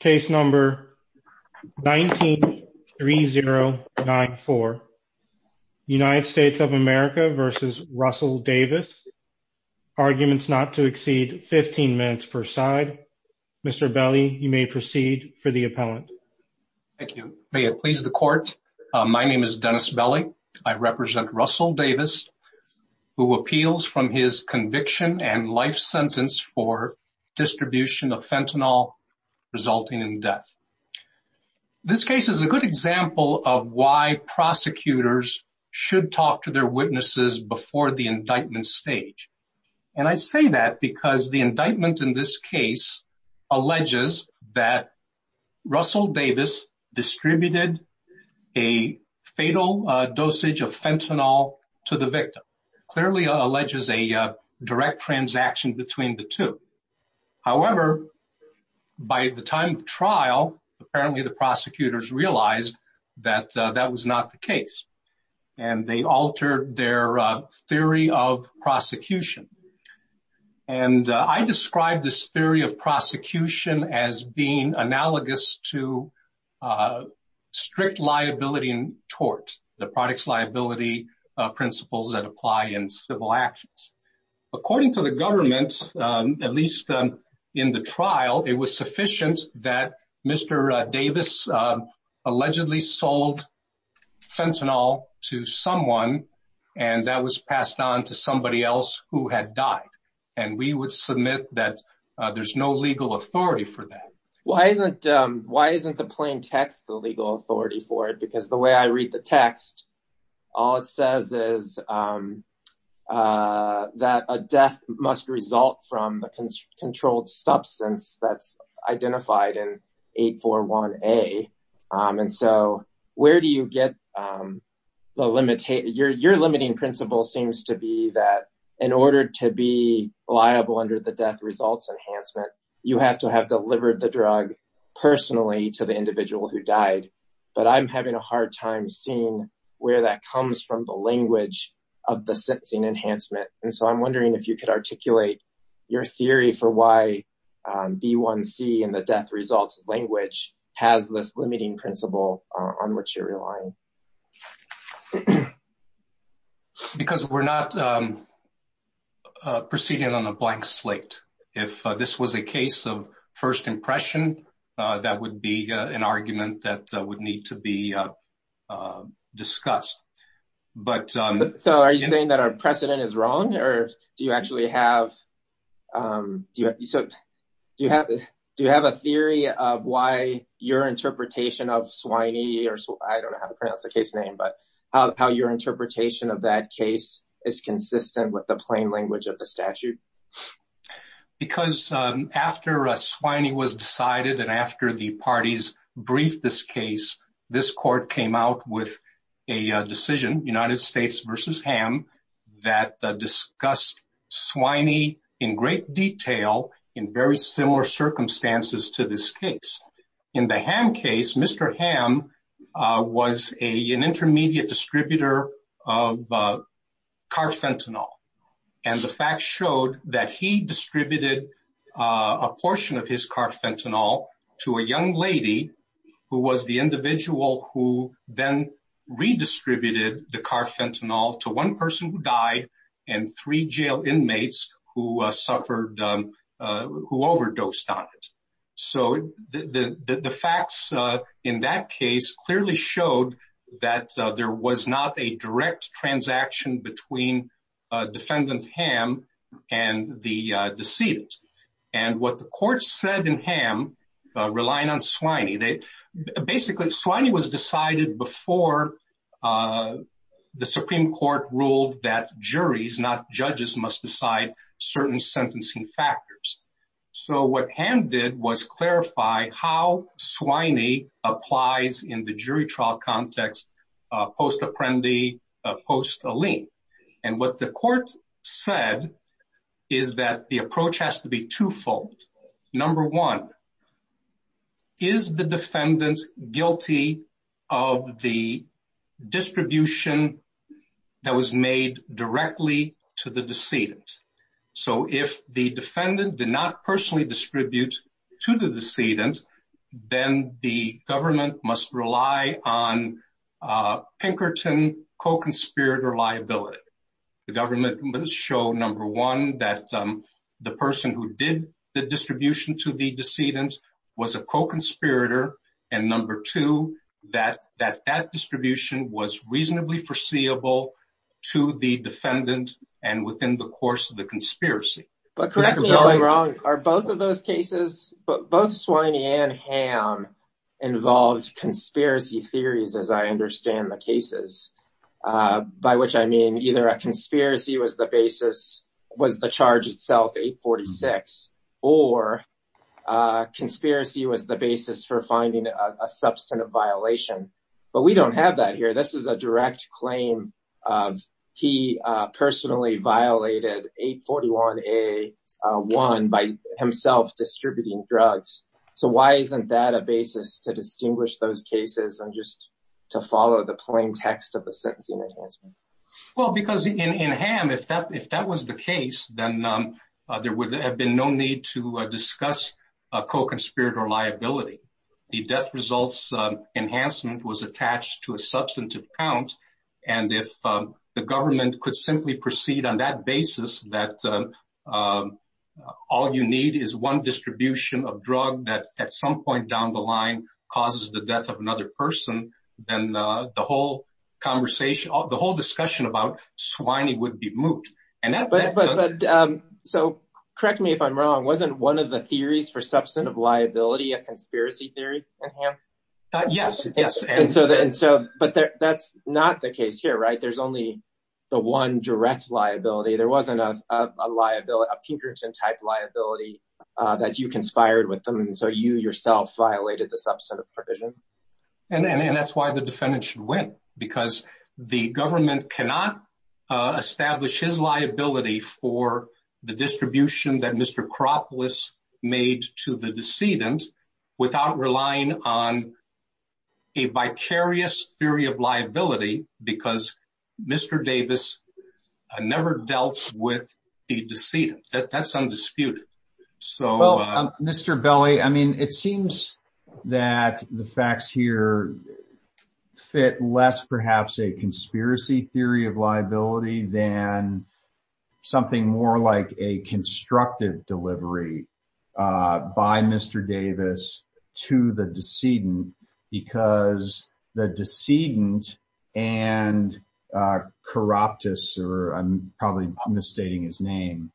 Case number 19-3094, United States of America v. Russell Davis. Arguments not to exceed 15 minutes per side. Mr. Belli, you may proceed for the appellant. Thank you. May it please the court. My name is Dennis Belli. I represent Russell Davis, who appeals from his conviction and life sentence for distribution of fentanyl resulting in death. This case is a good example of why prosecutors should talk to their witnesses before the indictment stage. And I say that because the indictment in this case alleges that Russell Davis distributed a fatal dosage of fentanyl to the victim, clearly alleges a direct transaction between the two. However, by the time of trial, apparently the prosecutors realized that that was not the case. And they altered their theory of prosecution. And I described this theory of prosecution as being analogous to strict liability in tort, the product's liability principles that apply in civil actions. According to the government, at least in the trial, it was sufficient that Mr. Davis allegedly sold fentanyl to someone. And that was passed on to somebody else who had died. And we would submit that there's no legal authority for that. Why isn't, why isn't the plain text the legal authority for it? Because the way I read the text, all it says is that a death must result from the controlled substance that's identified in 841A. And so where do you get the limit? Your limiting principle seems to be that in order to be liable under the death results enhancement, you have to have delivered the drug personally to the individual who died. But I'm having a hard time seeing where that comes from the language of the sentencing enhancement. And so I'm wondering if you could articulate your theory for why B1C and the death results language has this limiting principle on which you're relying. Because we're not proceeding on a blank slate. If this was a case of first impression, that would be an argument that would need to be discussed, but... So are you saying that our precedent is wrong or do you actually have, so do you have, do you have a theory of why your interpretation of Swiney or I don't know how to pronounce the case name, but how your interpretation of that case is consistent with the plain language of the statute? Because after a Swiney was decided and after the parties briefed this case, this court came out with a decision, United States versus Ham, that discussed Swiney in great detail in very similar circumstances to this case. In the Ham case, Mr. Ham was an intermediate distributor of carfentanil. And the facts showed that he distributed a portion of his carfentanil to a young lady who was the individual who then redistributed the carfentanil to one person who died and three jail inmates who suffered, who overdosed on it. So the facts in that case clearly showed that there was not a direct transaction between defendant Ham and the decedent. And what the court said in Ham, relying on Swiney, they basically, Swiney was decided before the Supreme Court ruled that juries, not judges, must decide certain sentencing factors. So what Ham did was clarify how Swiney applies in the jury trial context, post-apprendi, post-alien. And what the court said is that the approach has to be twofold. Number one, is the defendant guilty of the distribution that was made directly to the decedent? So if the defendant did not personally distribute to the decedent, then the Pinkerton co-conspirator liability. The government must show number one, that the person who did the distribution to the decedent was a co-conspirator. And number two, that that distribution was reasonably foreseeable to the defendant and within the course of the conspiracy. But correct me if I'm wrong, are both of those cases, both Swiney and Ham involved conspiracy theories, as I understand the cases, by which I mean either a conspiracy was the basis, was the charge itself 846, or a conspiracy was the basis for finding a substantive violation, but we don't have that here. This is a direct claim of he personally violated 841A1 by himself distributing drugs. So why isn't that a basis to distinguish those cases and just to follow the plain text of the sentencing enhancement? Well, because in Ham, if that was the case, then there would have been no need to discuss a co-conspirator liability. The death results enhancement was attached to a substantive count. And if the government could simply proceed on that basis, that all you need is one distribution of drug that at some point down the line causes the death of another person, then the whole conversation, the whole discussion about Swiney would be moot. And that, but, but, so correct me if I'm wrong, wasn't one of the theories for substantive liability, a conspiracy theory in Ham? Yes, yes. And so, and so, but that's not the case here, right? There's only the one direct liability. There wasn't a liability, a Pinkerton type liability that you conspired with them. And so you yourself violated the substantive provision. And that's why the defendant should win because the government cannot establish his liability for the distribution that Mr. Kropp was made to the decedent without relying on a vicarious theory of liability that dealt with the decedent that that's undisputed. So, well, Mr. Belli, I mean, it seems that the facts here fit less, perhaps a conspiracy theory of liability than something more like a constructive delivery by Mr. to the decedent because the decedent and corrupt us, or I'm probably misstating his name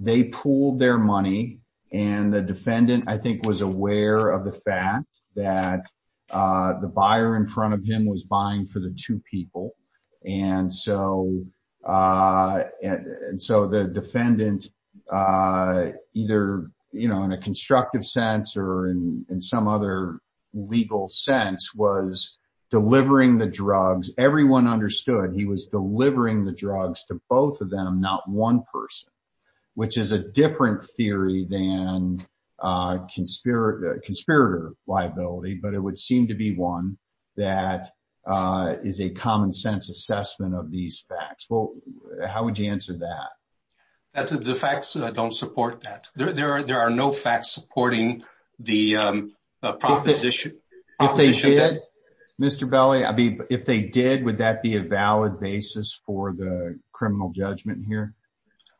they pooled their money and the defendant, I think was aware of the fact that the buyer in front of him was buying for the two people. And so, and so the defendant either, you know, in a constructive sense or in some other legal sense was delivering the drugs, everyone understood he was delivering the drugs to both of them, not one person, which is a different theory than conspirator liability, but it would seem to be one that is a consensus assessment of these facts. Well, how would you answer that? That's the facts that I don't support that there, there are, there are no facts supporting the proposition. If they did Mr. Belli, I mean, if they did, would that be a valid basis for the criminal judgment here?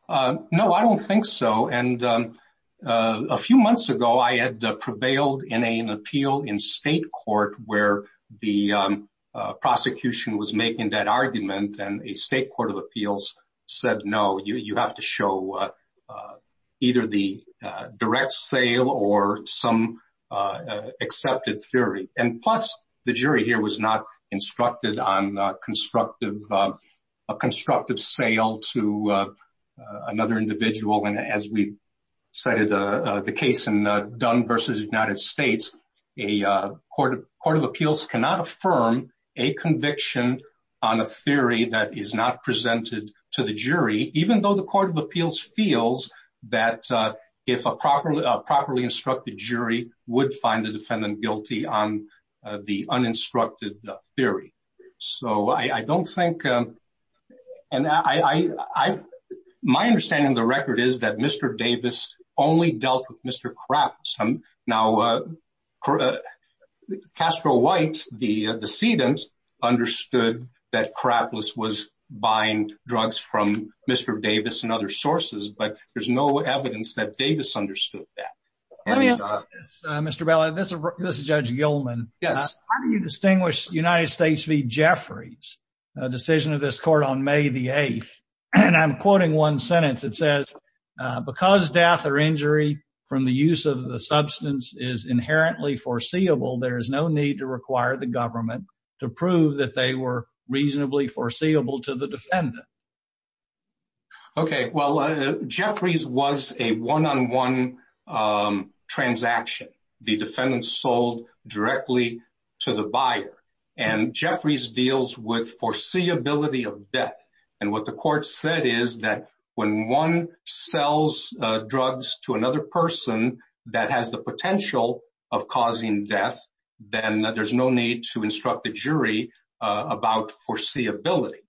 Uh, no, I don't think so. And, um, uh, a few months ago I had prevailed in a, an appeal in state court where the, um, uh, prosecution was making that argument and a state court of appeals said, no, you, you have to show, uh, uh, either the, uh, direct sale or some, uh, uh, accepted theory. And plus the jury here was not instructed on a constructive, uh, a constructive sale to, uh, uh, another individual. And as we cited, uh, uh, the case and, uh, Dunn versus United States, a, uh, court of court of appeals cannot affirm a conviction on a theory that is not presented to the jury, even though the court of appeals feels that, uh, if a proper, a properly instructed jury would find the defendant guilty on the uninstructed theory. So I, I don't think, um, and I, I, I, my understanding of the record is that Mr. Davis only dealt with Mr. Crapless. Um, now, uh, Castro White, the, uh, decedent understood that Crapless was buying drugs from Mr. Davis and other sources, but there's no evidence that Davis understood that. Uh, Mr. Bella, this is, this is judge Gilman. Yes. How do you distinguish United States v. Jeffries, a decision of this court on May the 8th, and I'm quoting one sentence. It says, uh, because death or injury from the use of the substance is inherently foreseeable, there is no need to require the government to prove that they were reasonably foreseeable to the defendant. Okay. Well, uh, Jeffries was a one-on-one, um, transaction. The defendant sold directly to the buyer and Jeffries deals with foreseeability of death. And what the court said is that when one sells, uh, drugs to another person that has the potential of causing death, then there's no need to instruct the jury, uh, about foreseeability.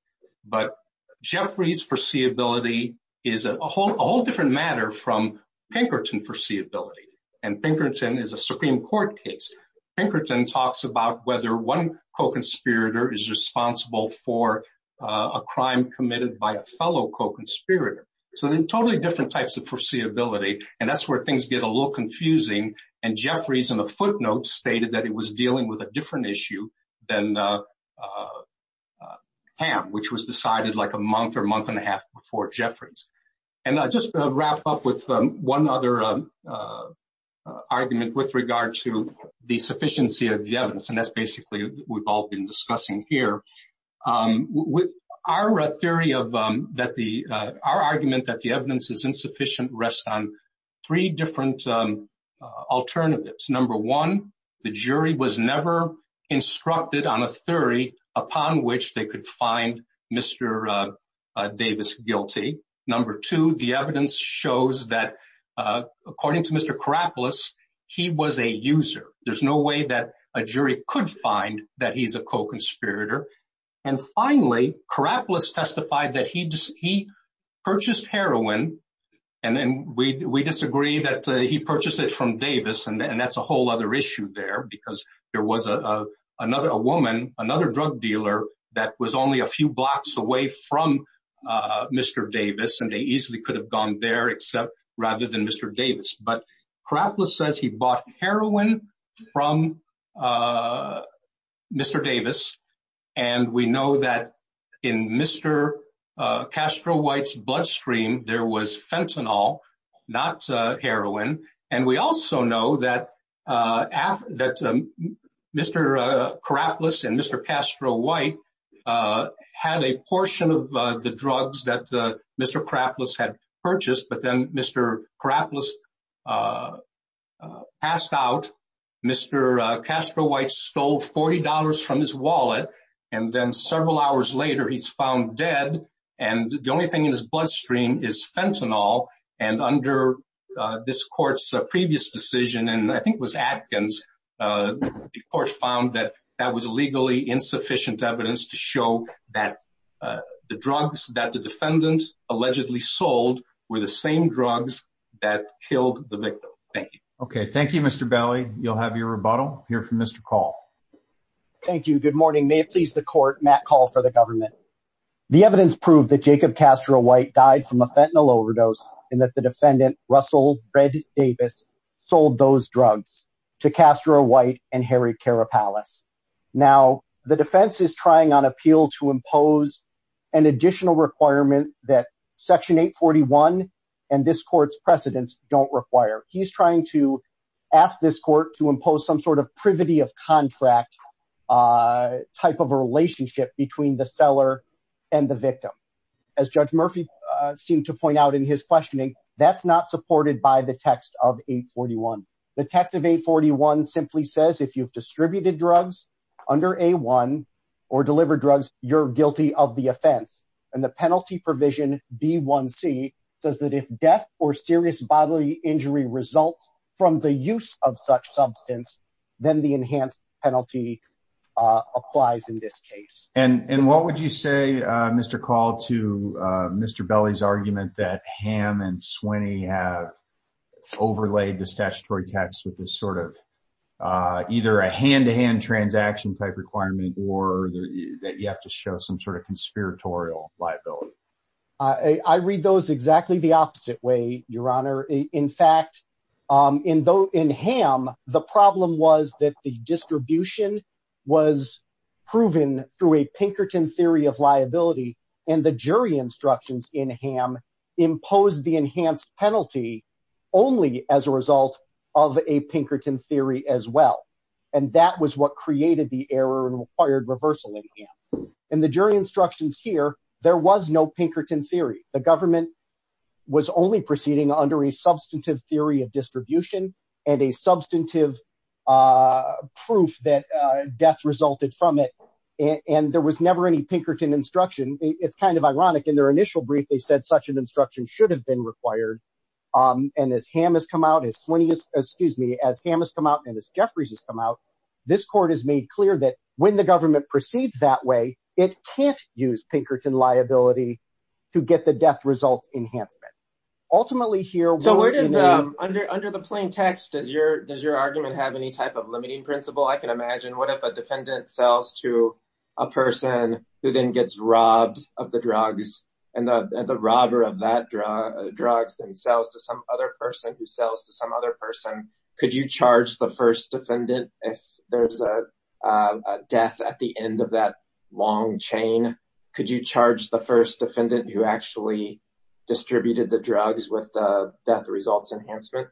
But Jeffries foreseeability is a whole, a whole different matter from Pinkerton foreseeability. And Pinkerton is a Supreme court case. Pinkerton talks about whether one co-conspirator is responsible for, uh, a crime committed by a fellow co-conspirator. So they're totally different types of foreseeability. And that's where things get a little confusing. And Jeffries in the footnotes stated that it was dealing with a different issue than, uh, uh, uh, Ham, which was decided like a month or a month and a half before Jeffries. And I just wrap up with one other, uh, uh, argument with regard to the sufficiency of the evidence. And that's basically we've all been discussing here. Um, with our theory of, um, that the, uh, our argument that the evidence is insufficient rests on three different, um, uh, alternatives. Number one, the jury was never instructed on a theory upon which they could find Mr. Uh, uh, Davis guilty. Number two, the evidence shows that, uh, according to Mr. Karapolis, he was a user. There's no way that a jury could find that he's a co-conspirator. And finally Karapolis testified that he just, he purchased heroin. And then we, we disagree that he purchased it from Davis. And that's a whole other issue there because there was a, uh, another, a woman, another drug dealer that was only a few blocks away from, uh, Mr. Davis, and they easily could have gone there except rather than Mr. Davis, but Karapolis says he bought heroin from, uh, Mr. Davis. And we know that in Mr. Uh, Castro White's bloodstream, there was fentanyl, not, uh, heroin. And we also know that, uh, that, um, Mr, uh, Karapolis and Mr. Castro White, uh, had a portion of, uh, the drugs that, uh, Mr. Karapolis had purchased, but then Mr. Karapolis, uh, uh, passed out. Mr. Uh, Castro White stole $40 from his wallet. And then several hours later, he's found dead. And the only thing in his bloodstream is fentanyl. And under this court's previous decision, and I think it was Atkins, uh, the was legally insufficient evidence to show that, uh, the drugs that the defendant allegedly sold were the same drugs that killed the victim. Thank you. Okay. Thank you, Mr. Belli. You'll have your rebuttal here from Mr. Call. Thank you. Good morning. May it please the court, Matt Call for the government. The evidence proved that Jacob Castro White died from a fentanyl overdose and that the defendant, Russell Red Davis, sold those drugs to Castro White and Harry Karapalapis. Now the defense is trying on appeal to impose an additional requirement that section 841 and this court's precedents don't require, he's trying to ask this court to impose some sort of privity of contract, uh, type of a relationship between the seller and the victim. As judge Murphy seemed to point out in his questioning, that's not supported by the text of 841. The text of 841 simply says, if you've distributed drugs under A1 or delivered drugs, you're guilty of the offense. And the penalty provision B1C says that if death or serious bodily injury results from the use of such substance, then the enhanced penalty, uh, applies in this case. And, and what would you say, uh, Mr. Call to, uh, Mr. Belli's argument that Ham and Sweeney have overlaid the statutory tax with this sort of, uh, either a hand to hand transaction type requirement or that you have to show some sort of conspiratorial liability. I read those exactly the opposite way, your honor. In fact, um, in Ham, the problem was that the distribution was proven through a Pinkerton theory of liability and the jury instructions in Ham imposed the enhanced penalty only as a result of a Pinkerton theory as well. And that was what created the error and required reversal in Ham. And the jury instructions here, there was no Pinkerton theory. The government was only proceeding under a substantive theory of distribution and a substantive, uh, proof that, uh, death resulted from it. And there was never any Pinkerton instruction. It's kind of ironic in their initial brief, they said such an instruction should have been required. Um, and as Ham has come out, as Sweeney, excuse me, as Ham has come out and as Jeffries has come out, this court has made clear that when the government proceeds that way, it can't use Pinkerton liability to get the death results enhancement. Ultimately here, under, under the plain text, does your, does your argument have any type of limiting principle? I can imagine. What if a defendant sells to a person who then gets robbed of the drugs and the robber of that drug drugs and sells to some other person who sells to some other person. Could you charge the first defendant if there's a death at the end of that long chain? Could you charge the first defendant who actually distributed the drugs with the death results enhancement?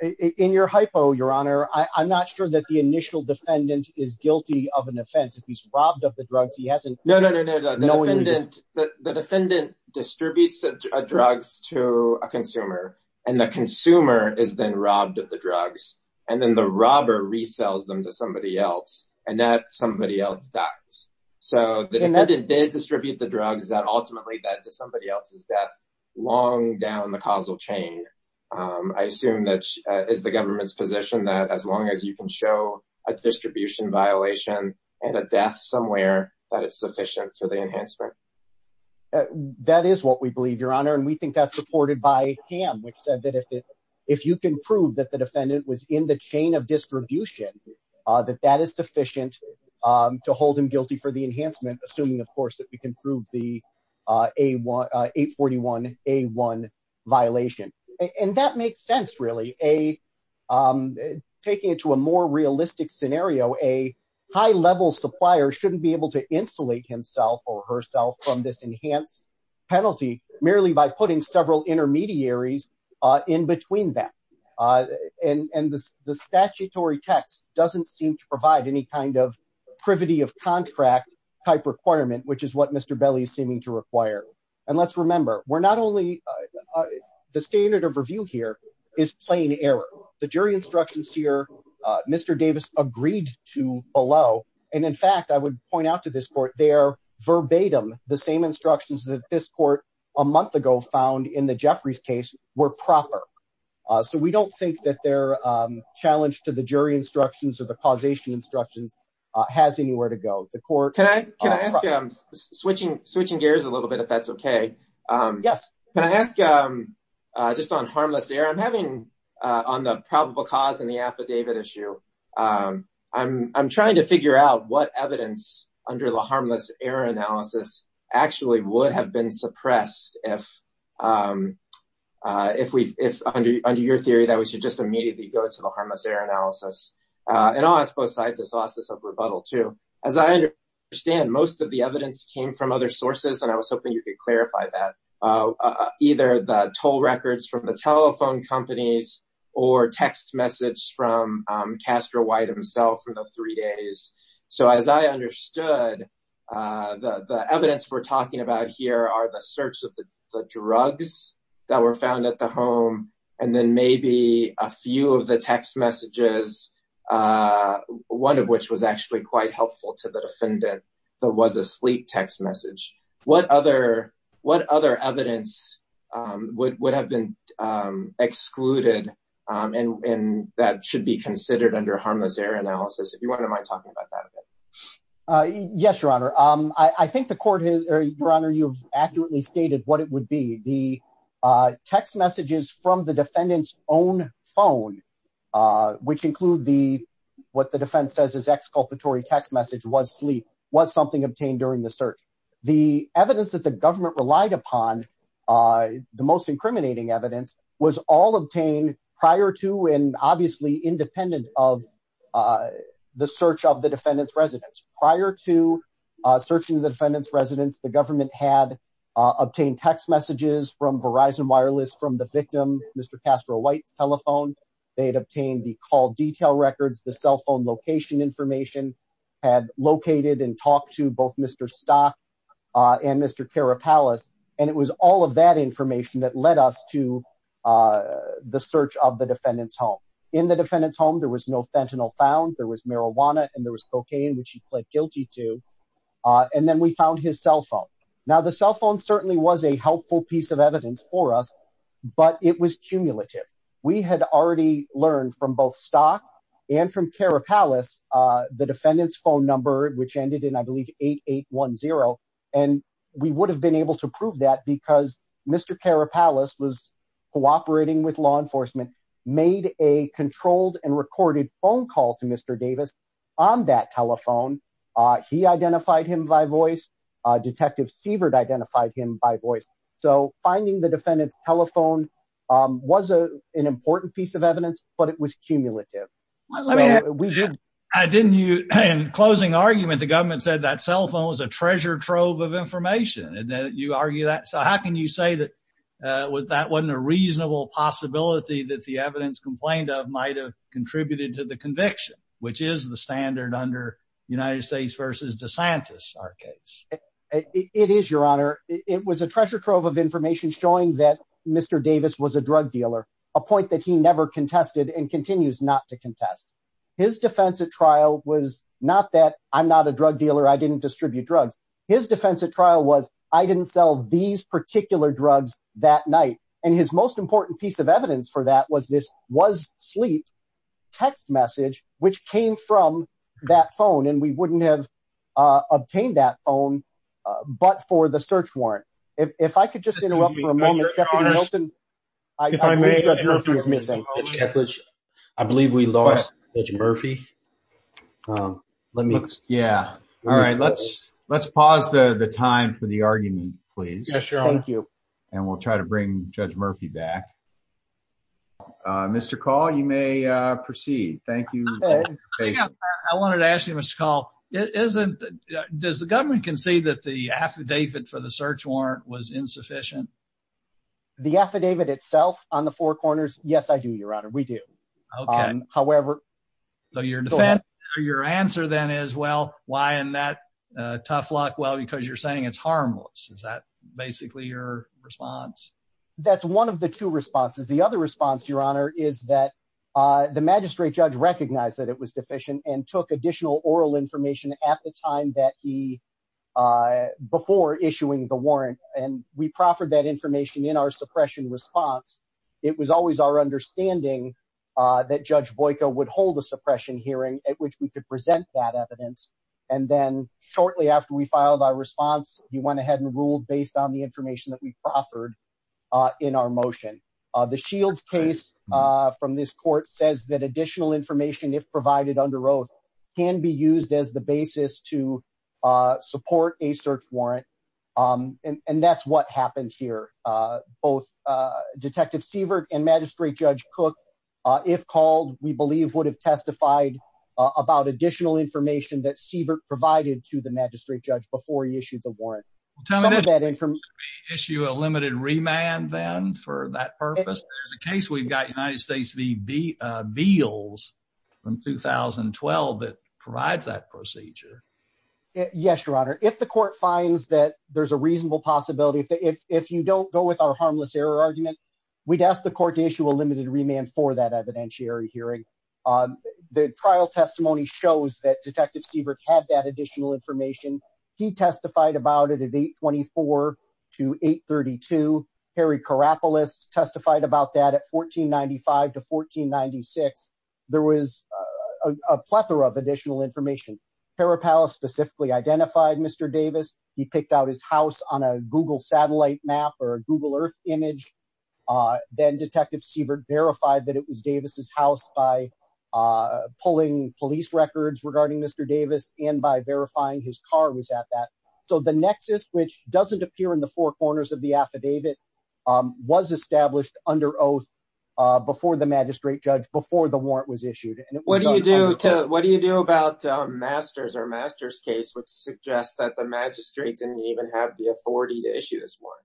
In your hypo, your honor, I'm not sure that the initial defendant is guilty of an offense. If he's robbed of the drugs, he hasn't. No, no, no, no, no. The defendant, the defendant distributes drugs to a consumer and the consumer is then robbed of the drugs. And then the robber resells them to somebody else and that somebody else dies. So the defendant did distribute the drugs that ultimately led to somebody else's death long down the causal chain. Um, I assume that, uh, is the government's position that as long as you can show a distribution violation and a death somewhere that it's sufficient for the enhancement. Uh, that is what we believe your honor. And we think that's supported by ham, which said that if it, if you can prove that the defendant was in the chain of distribution, uh, that that is sufficient, um, to hold him guilty for the enhancement, assuming of course that we can prove the, uh, a one, uh, eight 41, a one violation. And that makes sense. Really a, um, taking it to a more realistic scenario, a high level supplier shouldn't be able to insulate himself or herself from this enhanced. Penalty merely by putting several intermediaries, uh, in between that. Uh, and, and the, the statutory text doesn't seem to provide any kind of privity of contract type requirement, which is what Mr. Belly is seeming to require. And let's remember we're not only, uh, the standard of review here is plain error. The jury instructions here, uh, Mr. Davis agreed to allow. And in fact, I would point out to this court, they are verbatim. The same instructions that this court a month ago found in the Jeffrey's case were proper. Uh, so we don't think that they're, um, challenged to the jury instructions of the causation instructions, uh, has anywhere to go to court. Can I, can I ask you, I'm switching, switching gears a little bit, if that's okay, um, yes. Can I ask, um, uh, just on harmless error I'm having, uh, on the probable cause and the affidavit issue. Um, I'm, I'm trying to figure out what evidence under the harmless error analysis actually would have been suppressed if, um, uh, if we, if under, under your theory that we should just immediately go to the harmless error analysis, uh, and I'll ask both sides. I saw this up rebuttal too, as I understand, most of the evidence came from other sources. And I was hoping you could clarify that, uh, either the toll records from the telephone companies or text message from, um, Castro White himself from the three days. So as I understood, uh, the, the evidence we're talking about here are the search of the drugs that were found at the home, and then maybe a few of the text messages, uh, one of which was actually quite helpful to the defendant that was a sleep text message, what other, what other evidence, um, would, would have been, um, excluded, um, and, and that should be considered under harmless error analysis, if you wouldn't mind talking about that a bit. Uh, yes, your honor. Um, I think the court has, or your honor, you've accurately stated what it would be. The, uh, text messages from the defendant's own phone, uh, which include the, what the defense says is exculpatory text message was sleep, was something obtained during the search. The evidence that the government relied upon, uh, the most incriminating evidence was all obtained prior to, and obviously independent of, uh, the search of the defendant's residence prior to, uh, searching the defendant's residence, the government had, uh, obtained text messages from Verizon wireless, from the victim, Mr. Castro White's telephone. They had obtained the call detail records. The cell phone location information had located and talked to both Mr. Stock, uh, and Mr. Cara palace. And it was all of that information that led us to, uh, the search of the defendant's home. In the defendant's home, there was no fentanyl found there was marijuana and there was cocaine, which he pled guilty to. Uh, and then we found his cell phone. Now the cell phone certainly was a helpful piece of evidence for us, but it was cumulative. We had already learned from both stock and from Cara palace, uh, the defendant's phone number, which ended in, I believe eight, eight one zero. And we would have been able to prove that because Mr. Cara palace was cooperating with law enforcement, made a controlled and recorded phone call to Mr. Davis on that telephone. Uh, he identified him by voice, uh, detective Sievert identified him by voice. So finding the defendant's telephone, um, was a, an important piece of evidence, but it was cumulative. I didn't you in closing argument, the government said that cell phone was a treasure trove of information. And then you argue that. So how can you say that, uh, was that wasn't a reasonable possibility that the evidence complained of might've contributed to the conviction, which is the standard under United States versus DeSantis our case. It is your honor. It was a treasure trove of information showing that Mr. Davis was a drug dealer, a point that he never contested and continues not to contest. His defense at trial was not that I'm not a drug dealer. I didn't distribute drugs. His defense at trial was I didn't sell these particular drugs that night. And his most important piece of evidence for that was this was sleep text message, which came from that phone. And we wouldn't have, uh, obtained that phone, uh, but for the search warrant, if I could just interrupt for a moment, I believe we lost Murphy. Um, let me, yeah. All right. Let's, let's pause the time for the argument, please. And we'll try to bring judge Murphy back. Uh, Mr. Call, you may proceed. Thank you. I wanted to ask you, Mr. Call, it isn't, does the government concede that the affidavit for the search warrant was insufficient? The affidavit itself on the four corners. Yes, I do. Your honor. We do. Okay. However, so your defense or your answer then is, well, why in that tough luck? Well, because you're saying it's harmless. Is that basically your response? That's one of the two responses. The other response, your honor, is that, uh, the magistrate judge recognized that it was deficient and took additional oral information at the time that he, uh, before issuing the warrant and we proffered that information in our suppression response, it was always our understanding, uh, that judge Boyko would hold a suppression hearing at which we could present that evidence, and then shortly after we filed our response, he went ahead and ruled based on the information that we proffered, uh, in our motion. Uh, the Shields case, uh, from this court says that additional information, if provided under oath, can be used as the basis to, uh, support a search warrant, um, and, and that's what happened here. Uh, both, uh, detective Sievert and magistrate judge Cook, uh, if called, we believe would have testified about additional information that Sievert provided to the magistrate judge before he issued the warrant. Tell me, did he issue a limited remand then for that purpose? There's a case we've got United States v. Beals from 2012 that provides that procedure. Yes, your honor. If the court finds that there's a reasonable possibility, if you don't go with our harmless error argument, we'd ask the court to issue a limited remand for that evidentiary hearing. Um, the trial testimony shows that detective Sievert had that additional information. He testified about it at eight 24 to eight 32. Harry Karapolis testified about that at 1495 to 1496. There was a plethora of additional information. Hera palace specifically identified Mr. Davis. He picked out his house on a Google satellite map or a Google earth image. Uh, then detective Sievert verified that it was Davis's house by, uh, pulling police records regarding Mr. Davis and by verifying his car was at that. So the nexus, which doesn't appear in the four corners of the affidavit, um, was established under oath, uh, before the magistrate judge, before the warrant was issued. And what do you do to, what do you do about a master's or master's case, which suggests that the magistrate didn't even have the authority to issue this one?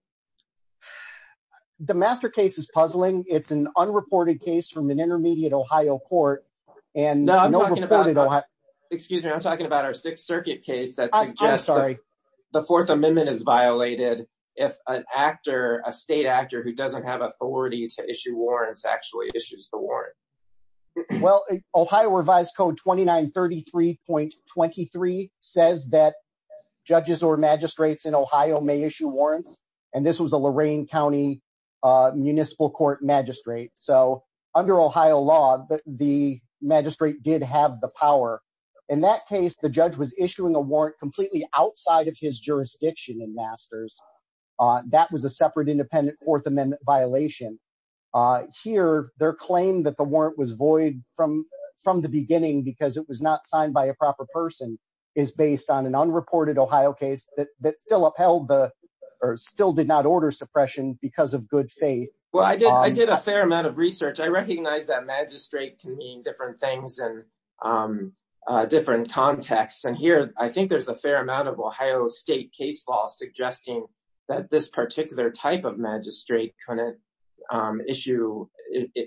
The master case is puzzling. It's an unreported case from an intermediate Ohio court. And no, I'm talking about, excuse me. I'm talking about our sixth circuit case that suggests the fourth amendment is violated. If an actor, a state actor who doesn't have authority to issue warrants actually issues the warrant. Well, Ohio revised code 29 33.23 says that judges or magistrates in Ohio may issue warrants. And this was a Lorain County, uh, municipal court magistrate. So under Ohio law, the magistrate did have the power in that case. The judge was issuing a warrant completely outside of his jurisdiction and masters, uh, that was a separate independent fourth amendment violation. Uh, here, their claim that the warrant was void from, from the beginning, because it was not signed by a proper person is based on an unreported Ohio case that, that still upheld the, or still did not order suppression because of good faith. Well, I did, I did a fair amount of research. I recognize that magistrate can mean different things and, um, uh, different contexts. And here, I think there's a fair amount of Ohio state case law suggesting that this particular type of magistrate couldn't, um, issue,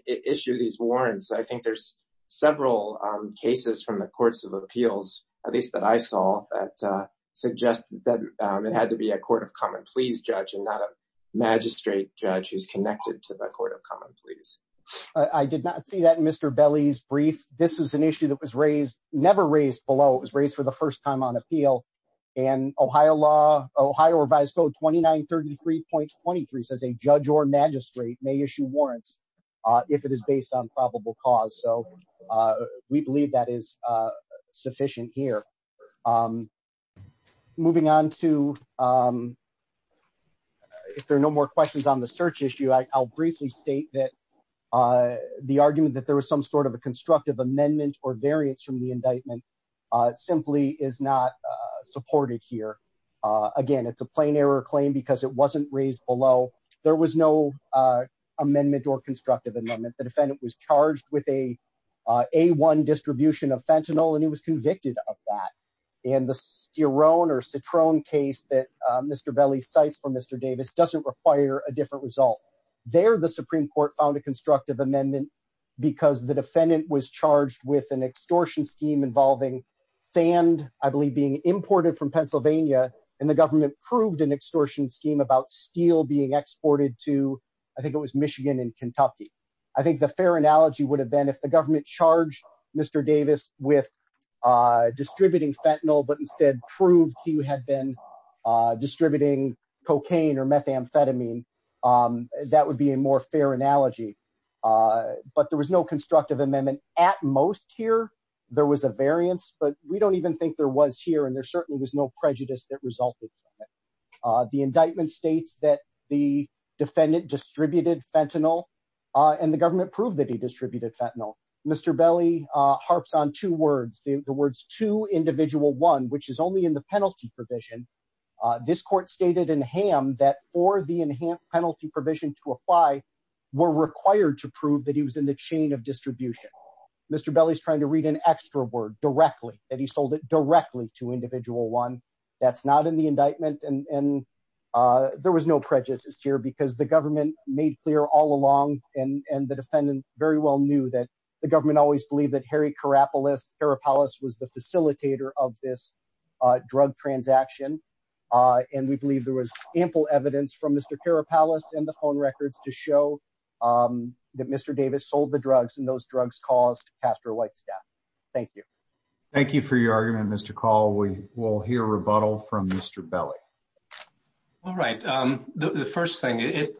issue these warrants. I think there's several, um, cases from the courts of appeals, at least that I saw that, uh, suggest that, um, it had to be a court of common, please judge and not a magistrate judge who's connected to the court of common police. I did not see that in Mr. Belly's brief. This was an issue that was raised, never raised below. It was raised for the first time on appeal and Ohio law, Ohio revised code 2933.23 says a judge or magistrate may issue warrants if it is based on probable cause. So, uh, we believe that is, uh, sufficient here. Um, moving on to, um, if there are no more questions on the search issue, I'll briefly state that, uh, the argument that there was some sort of a constructive amendment or variance from the indictment, uh, simply is not, uh, supported here. Uh, again, it's a plain error claim because it wasn't raised below. There was no, uh, amendment or constructive amendment. The defendant was charged with a, uh, a one distribution of fentanyl, and he was convicted of that. And the your own or Citroen case that, uh, Mr. Belly sites for Mr. Davis doesn't require a different result there. The Supreme court found a constructive amendment because the defendant was charged with an extortion scheme involving sand, I believe being imported from Pennsylvania and the government proved an extortion scheme about steel being exported to, I think it was Michigan and Kentucky. I think the fair analogy would have been if the government charged Mr. With, uh, distributing fentanyl, but instead proved he had been, uh, distributing cocaine or methamphetamine. Um, that would be a more fair analogy. Uh, but there was no constructive amendment at most here. There was a variance, but we don't even think there was here. And there certainly was no prejudice that resulted in it. Uh, the indictment States that the defendant distributed fentanyl, uh, and the government proved that he distributed fentanyl, Mr. Belly, uh, harps on two words, the words to individual one, which is only in the penalty provision. Uh, this court stated in ham that for the enhanced penalty provision to apply. We're required to prove that he was in the chain of distribution. Mr. Belly's trying to read an extra word directly that he sold it directly to individual one. That's not in the indictment. And, and, uh, there was no prejudice here because the government made clear all and, and the defendant very well knew that the government always believed that Harry Carapolis, Carapalus was the facilitator of this, uh, drug transaction. Uh, and we believe there was ample evidence from Mr. Carapalus and the phone records to show, um, that Mr. Davis sold the drugs and those drugs caused pastor white staff. Thank you. Thank you for your argument, Mr. Call. We will hear rebuttal from Mr. Belly. All right. Um, the first thing it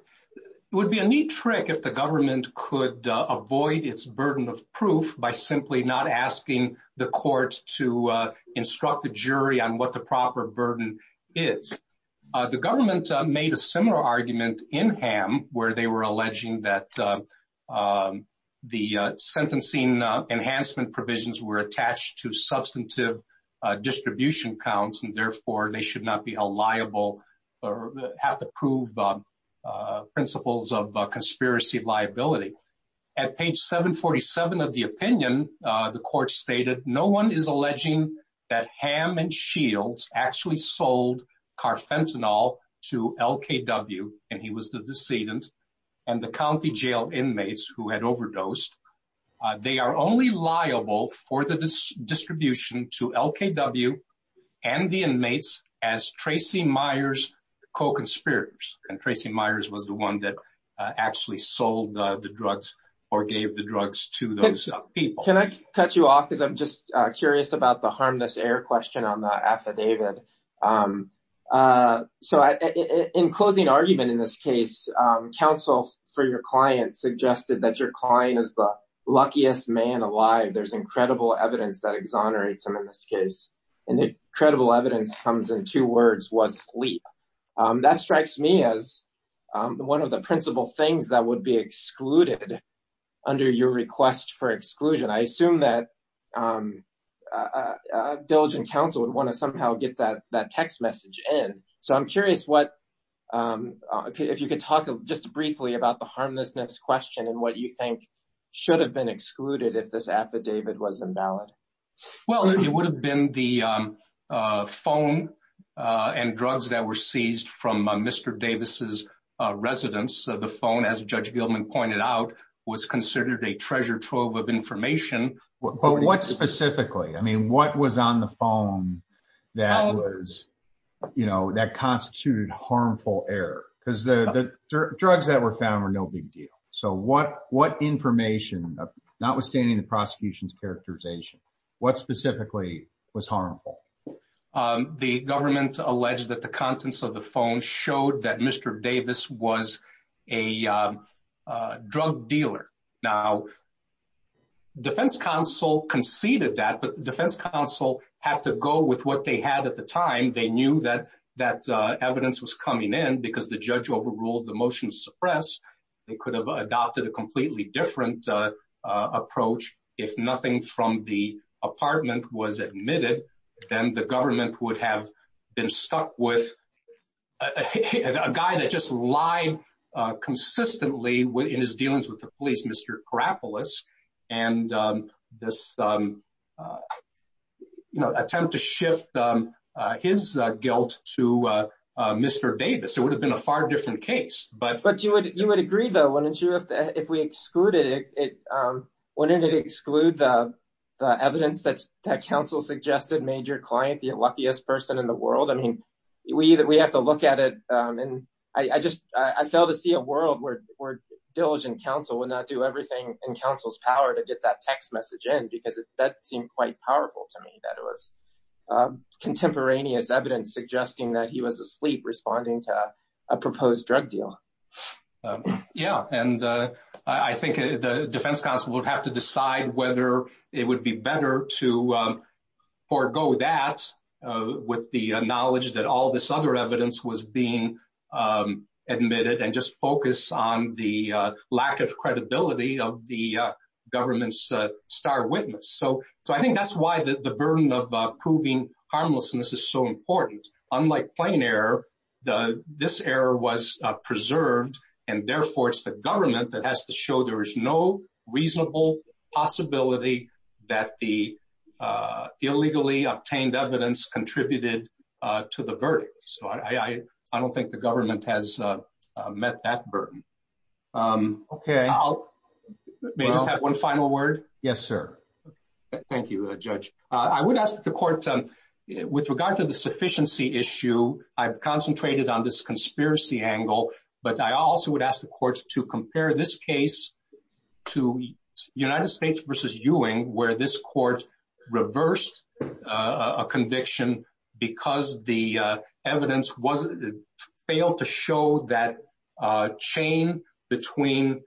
would be a neat trick if the government could, uh, avoid its burden of proof by simply not asking the courts to, uh, instruct the jury on what the proper burden is. Uh, the government made a similar argument in ham where they were alleging that, uh, um, the, uh, sentencing, uh, enhancement provisions were attached to substantive, uh, distribution counts. And therefore they should not be held liable or have to prove, um, uh, principles of conspiracy liability. At page seven 47 of the opinion, uh, the court stated, no one is alleging that ham and shields actually sold carfentanil to LKW and he was the decedent and the County jail inmates who had overdosed, uh, they are only liable for the distribution to LKW and the inmates as Tracy Myers co-conspirators. And Tracy Myers was the one that actually sold the drugs or gave the drugs to those people. Can I cut you off? Cause I'm just curious about the harmless air question on the affidavit. Um, uh, so I, in closing argument in this case, um, counsel for your client suggested that your client is the luckiest man alive. There's incredible evidence that exonerates him in this case. And the credible evidence comes in two words was sleep. Um, that strikes me as, um, one of the principal things that would be excluded under your request for exclusion. I assume that, um, uh, uh, diligent counsel would want to somehow get that, that text message in. So I'm curious what, um, if you could talk just briefly about the harmlessness question and what you think should have been excluded. If this affidavit was invalid. Well, it would have been the, um, uh, phone, uh, and drugs that were seized from Mr. Davis's, uh, residence. So the phone as judge Gilman pointed out was considered a treasure trove of information. Well, what specifically, I mean, what was on the phone that was, you know, that constituted harmful air? Cause the drugs that were found were no big deal. So what, what information notwithstanding the prosecution's characterization, what specifically was harmful? Um, the government alleged that the contents of the phone showed that Mr. Davis was a, um, uh, drug dealer. Now defense counsel conceded that, but the defense counsel had to go with what they had at the time. They knew that that, uh, evidence was coming in because the judge overruled the motion suppress. They could have adopted a completely different, uh, uh, approach. If nothing from the apartment was admitted, then the government would have been stuck with a guy that just lied, uh, consistently in his dealings with the police, Mr. Karapolis and, um, this, um, uh, you know, attempt to shift, um, uh, his guilt to, uh, uh, Mr. Davis, it would have been a far different case. But, but you would, you would agree though, wouldn't you? If, if we exclude it, it, um, wouldn't it exclude the evidence that, that counsel suggested made your client the luckiest person in the world? I mean, we either, we have to look at it. Um, and I, I just, I fail to see a world where, where diligent counsel would not do everything in counsel's power to get that text message in, because that seemed quite powerful to me that it was, um, contemporaneous evidence suggesting that he was asleep responding to a proposed drug deal. Um, yeah. And, uh, I think the defense counsel would have to decide whether it would be better to, um, forego that, uh, with the knowledge that all this other evidence was being, um, admitted and just focus on the, uh, lack of credibility of the, uh, government's, uh, star witness. So, so I think that's why the burden of proving harmlessness is so important. Unlike plain error, the, this error was preserved and therefore it's the government that has to show there is no reasonable possibility that the, uh, illegally obtained evidence contributed, uh, to the verdict. So I, I, I don't think the government has, uh, uh, met that burden. Um, okay. I'll may just have one final word. Yes, sir. Thank you, uh, judge. Uh, I would ask the court, um, with regard to the sufficiency issue, I've concentrated on this conspiracy angle, but I also would ask the courts to compare this case to United States versus Ewing, where this court reversed, uh, a conviction because the, uh, evidence was failed to show that, uh, chain between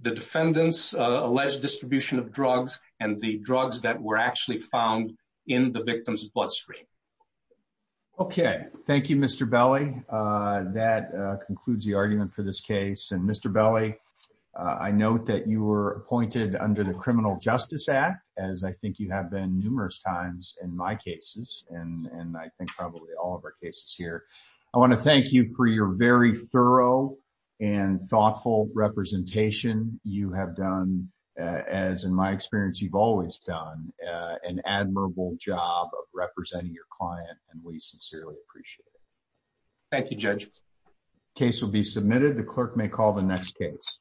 the defendants, uh, alleged distribution of drugs and the drugs that were actually found in the victim's bloodstream. Okay. Thank you, Mr. Belli. Uh, that, uh, concludes the argument for this case. And Mr. Belli, uh, I note that you were appointed under the criminal justice act, as I think you have been numerous times in my cases and, and I think probably all of our cases here, I want to thank you for your very thorough and thoughtful representation you have done, uh, as in my experience, you've always done, uh, an admirable job of representing your client and we sincerely appreciate it. Thank you, judge. Case will be submitted. The clerk may call the next case.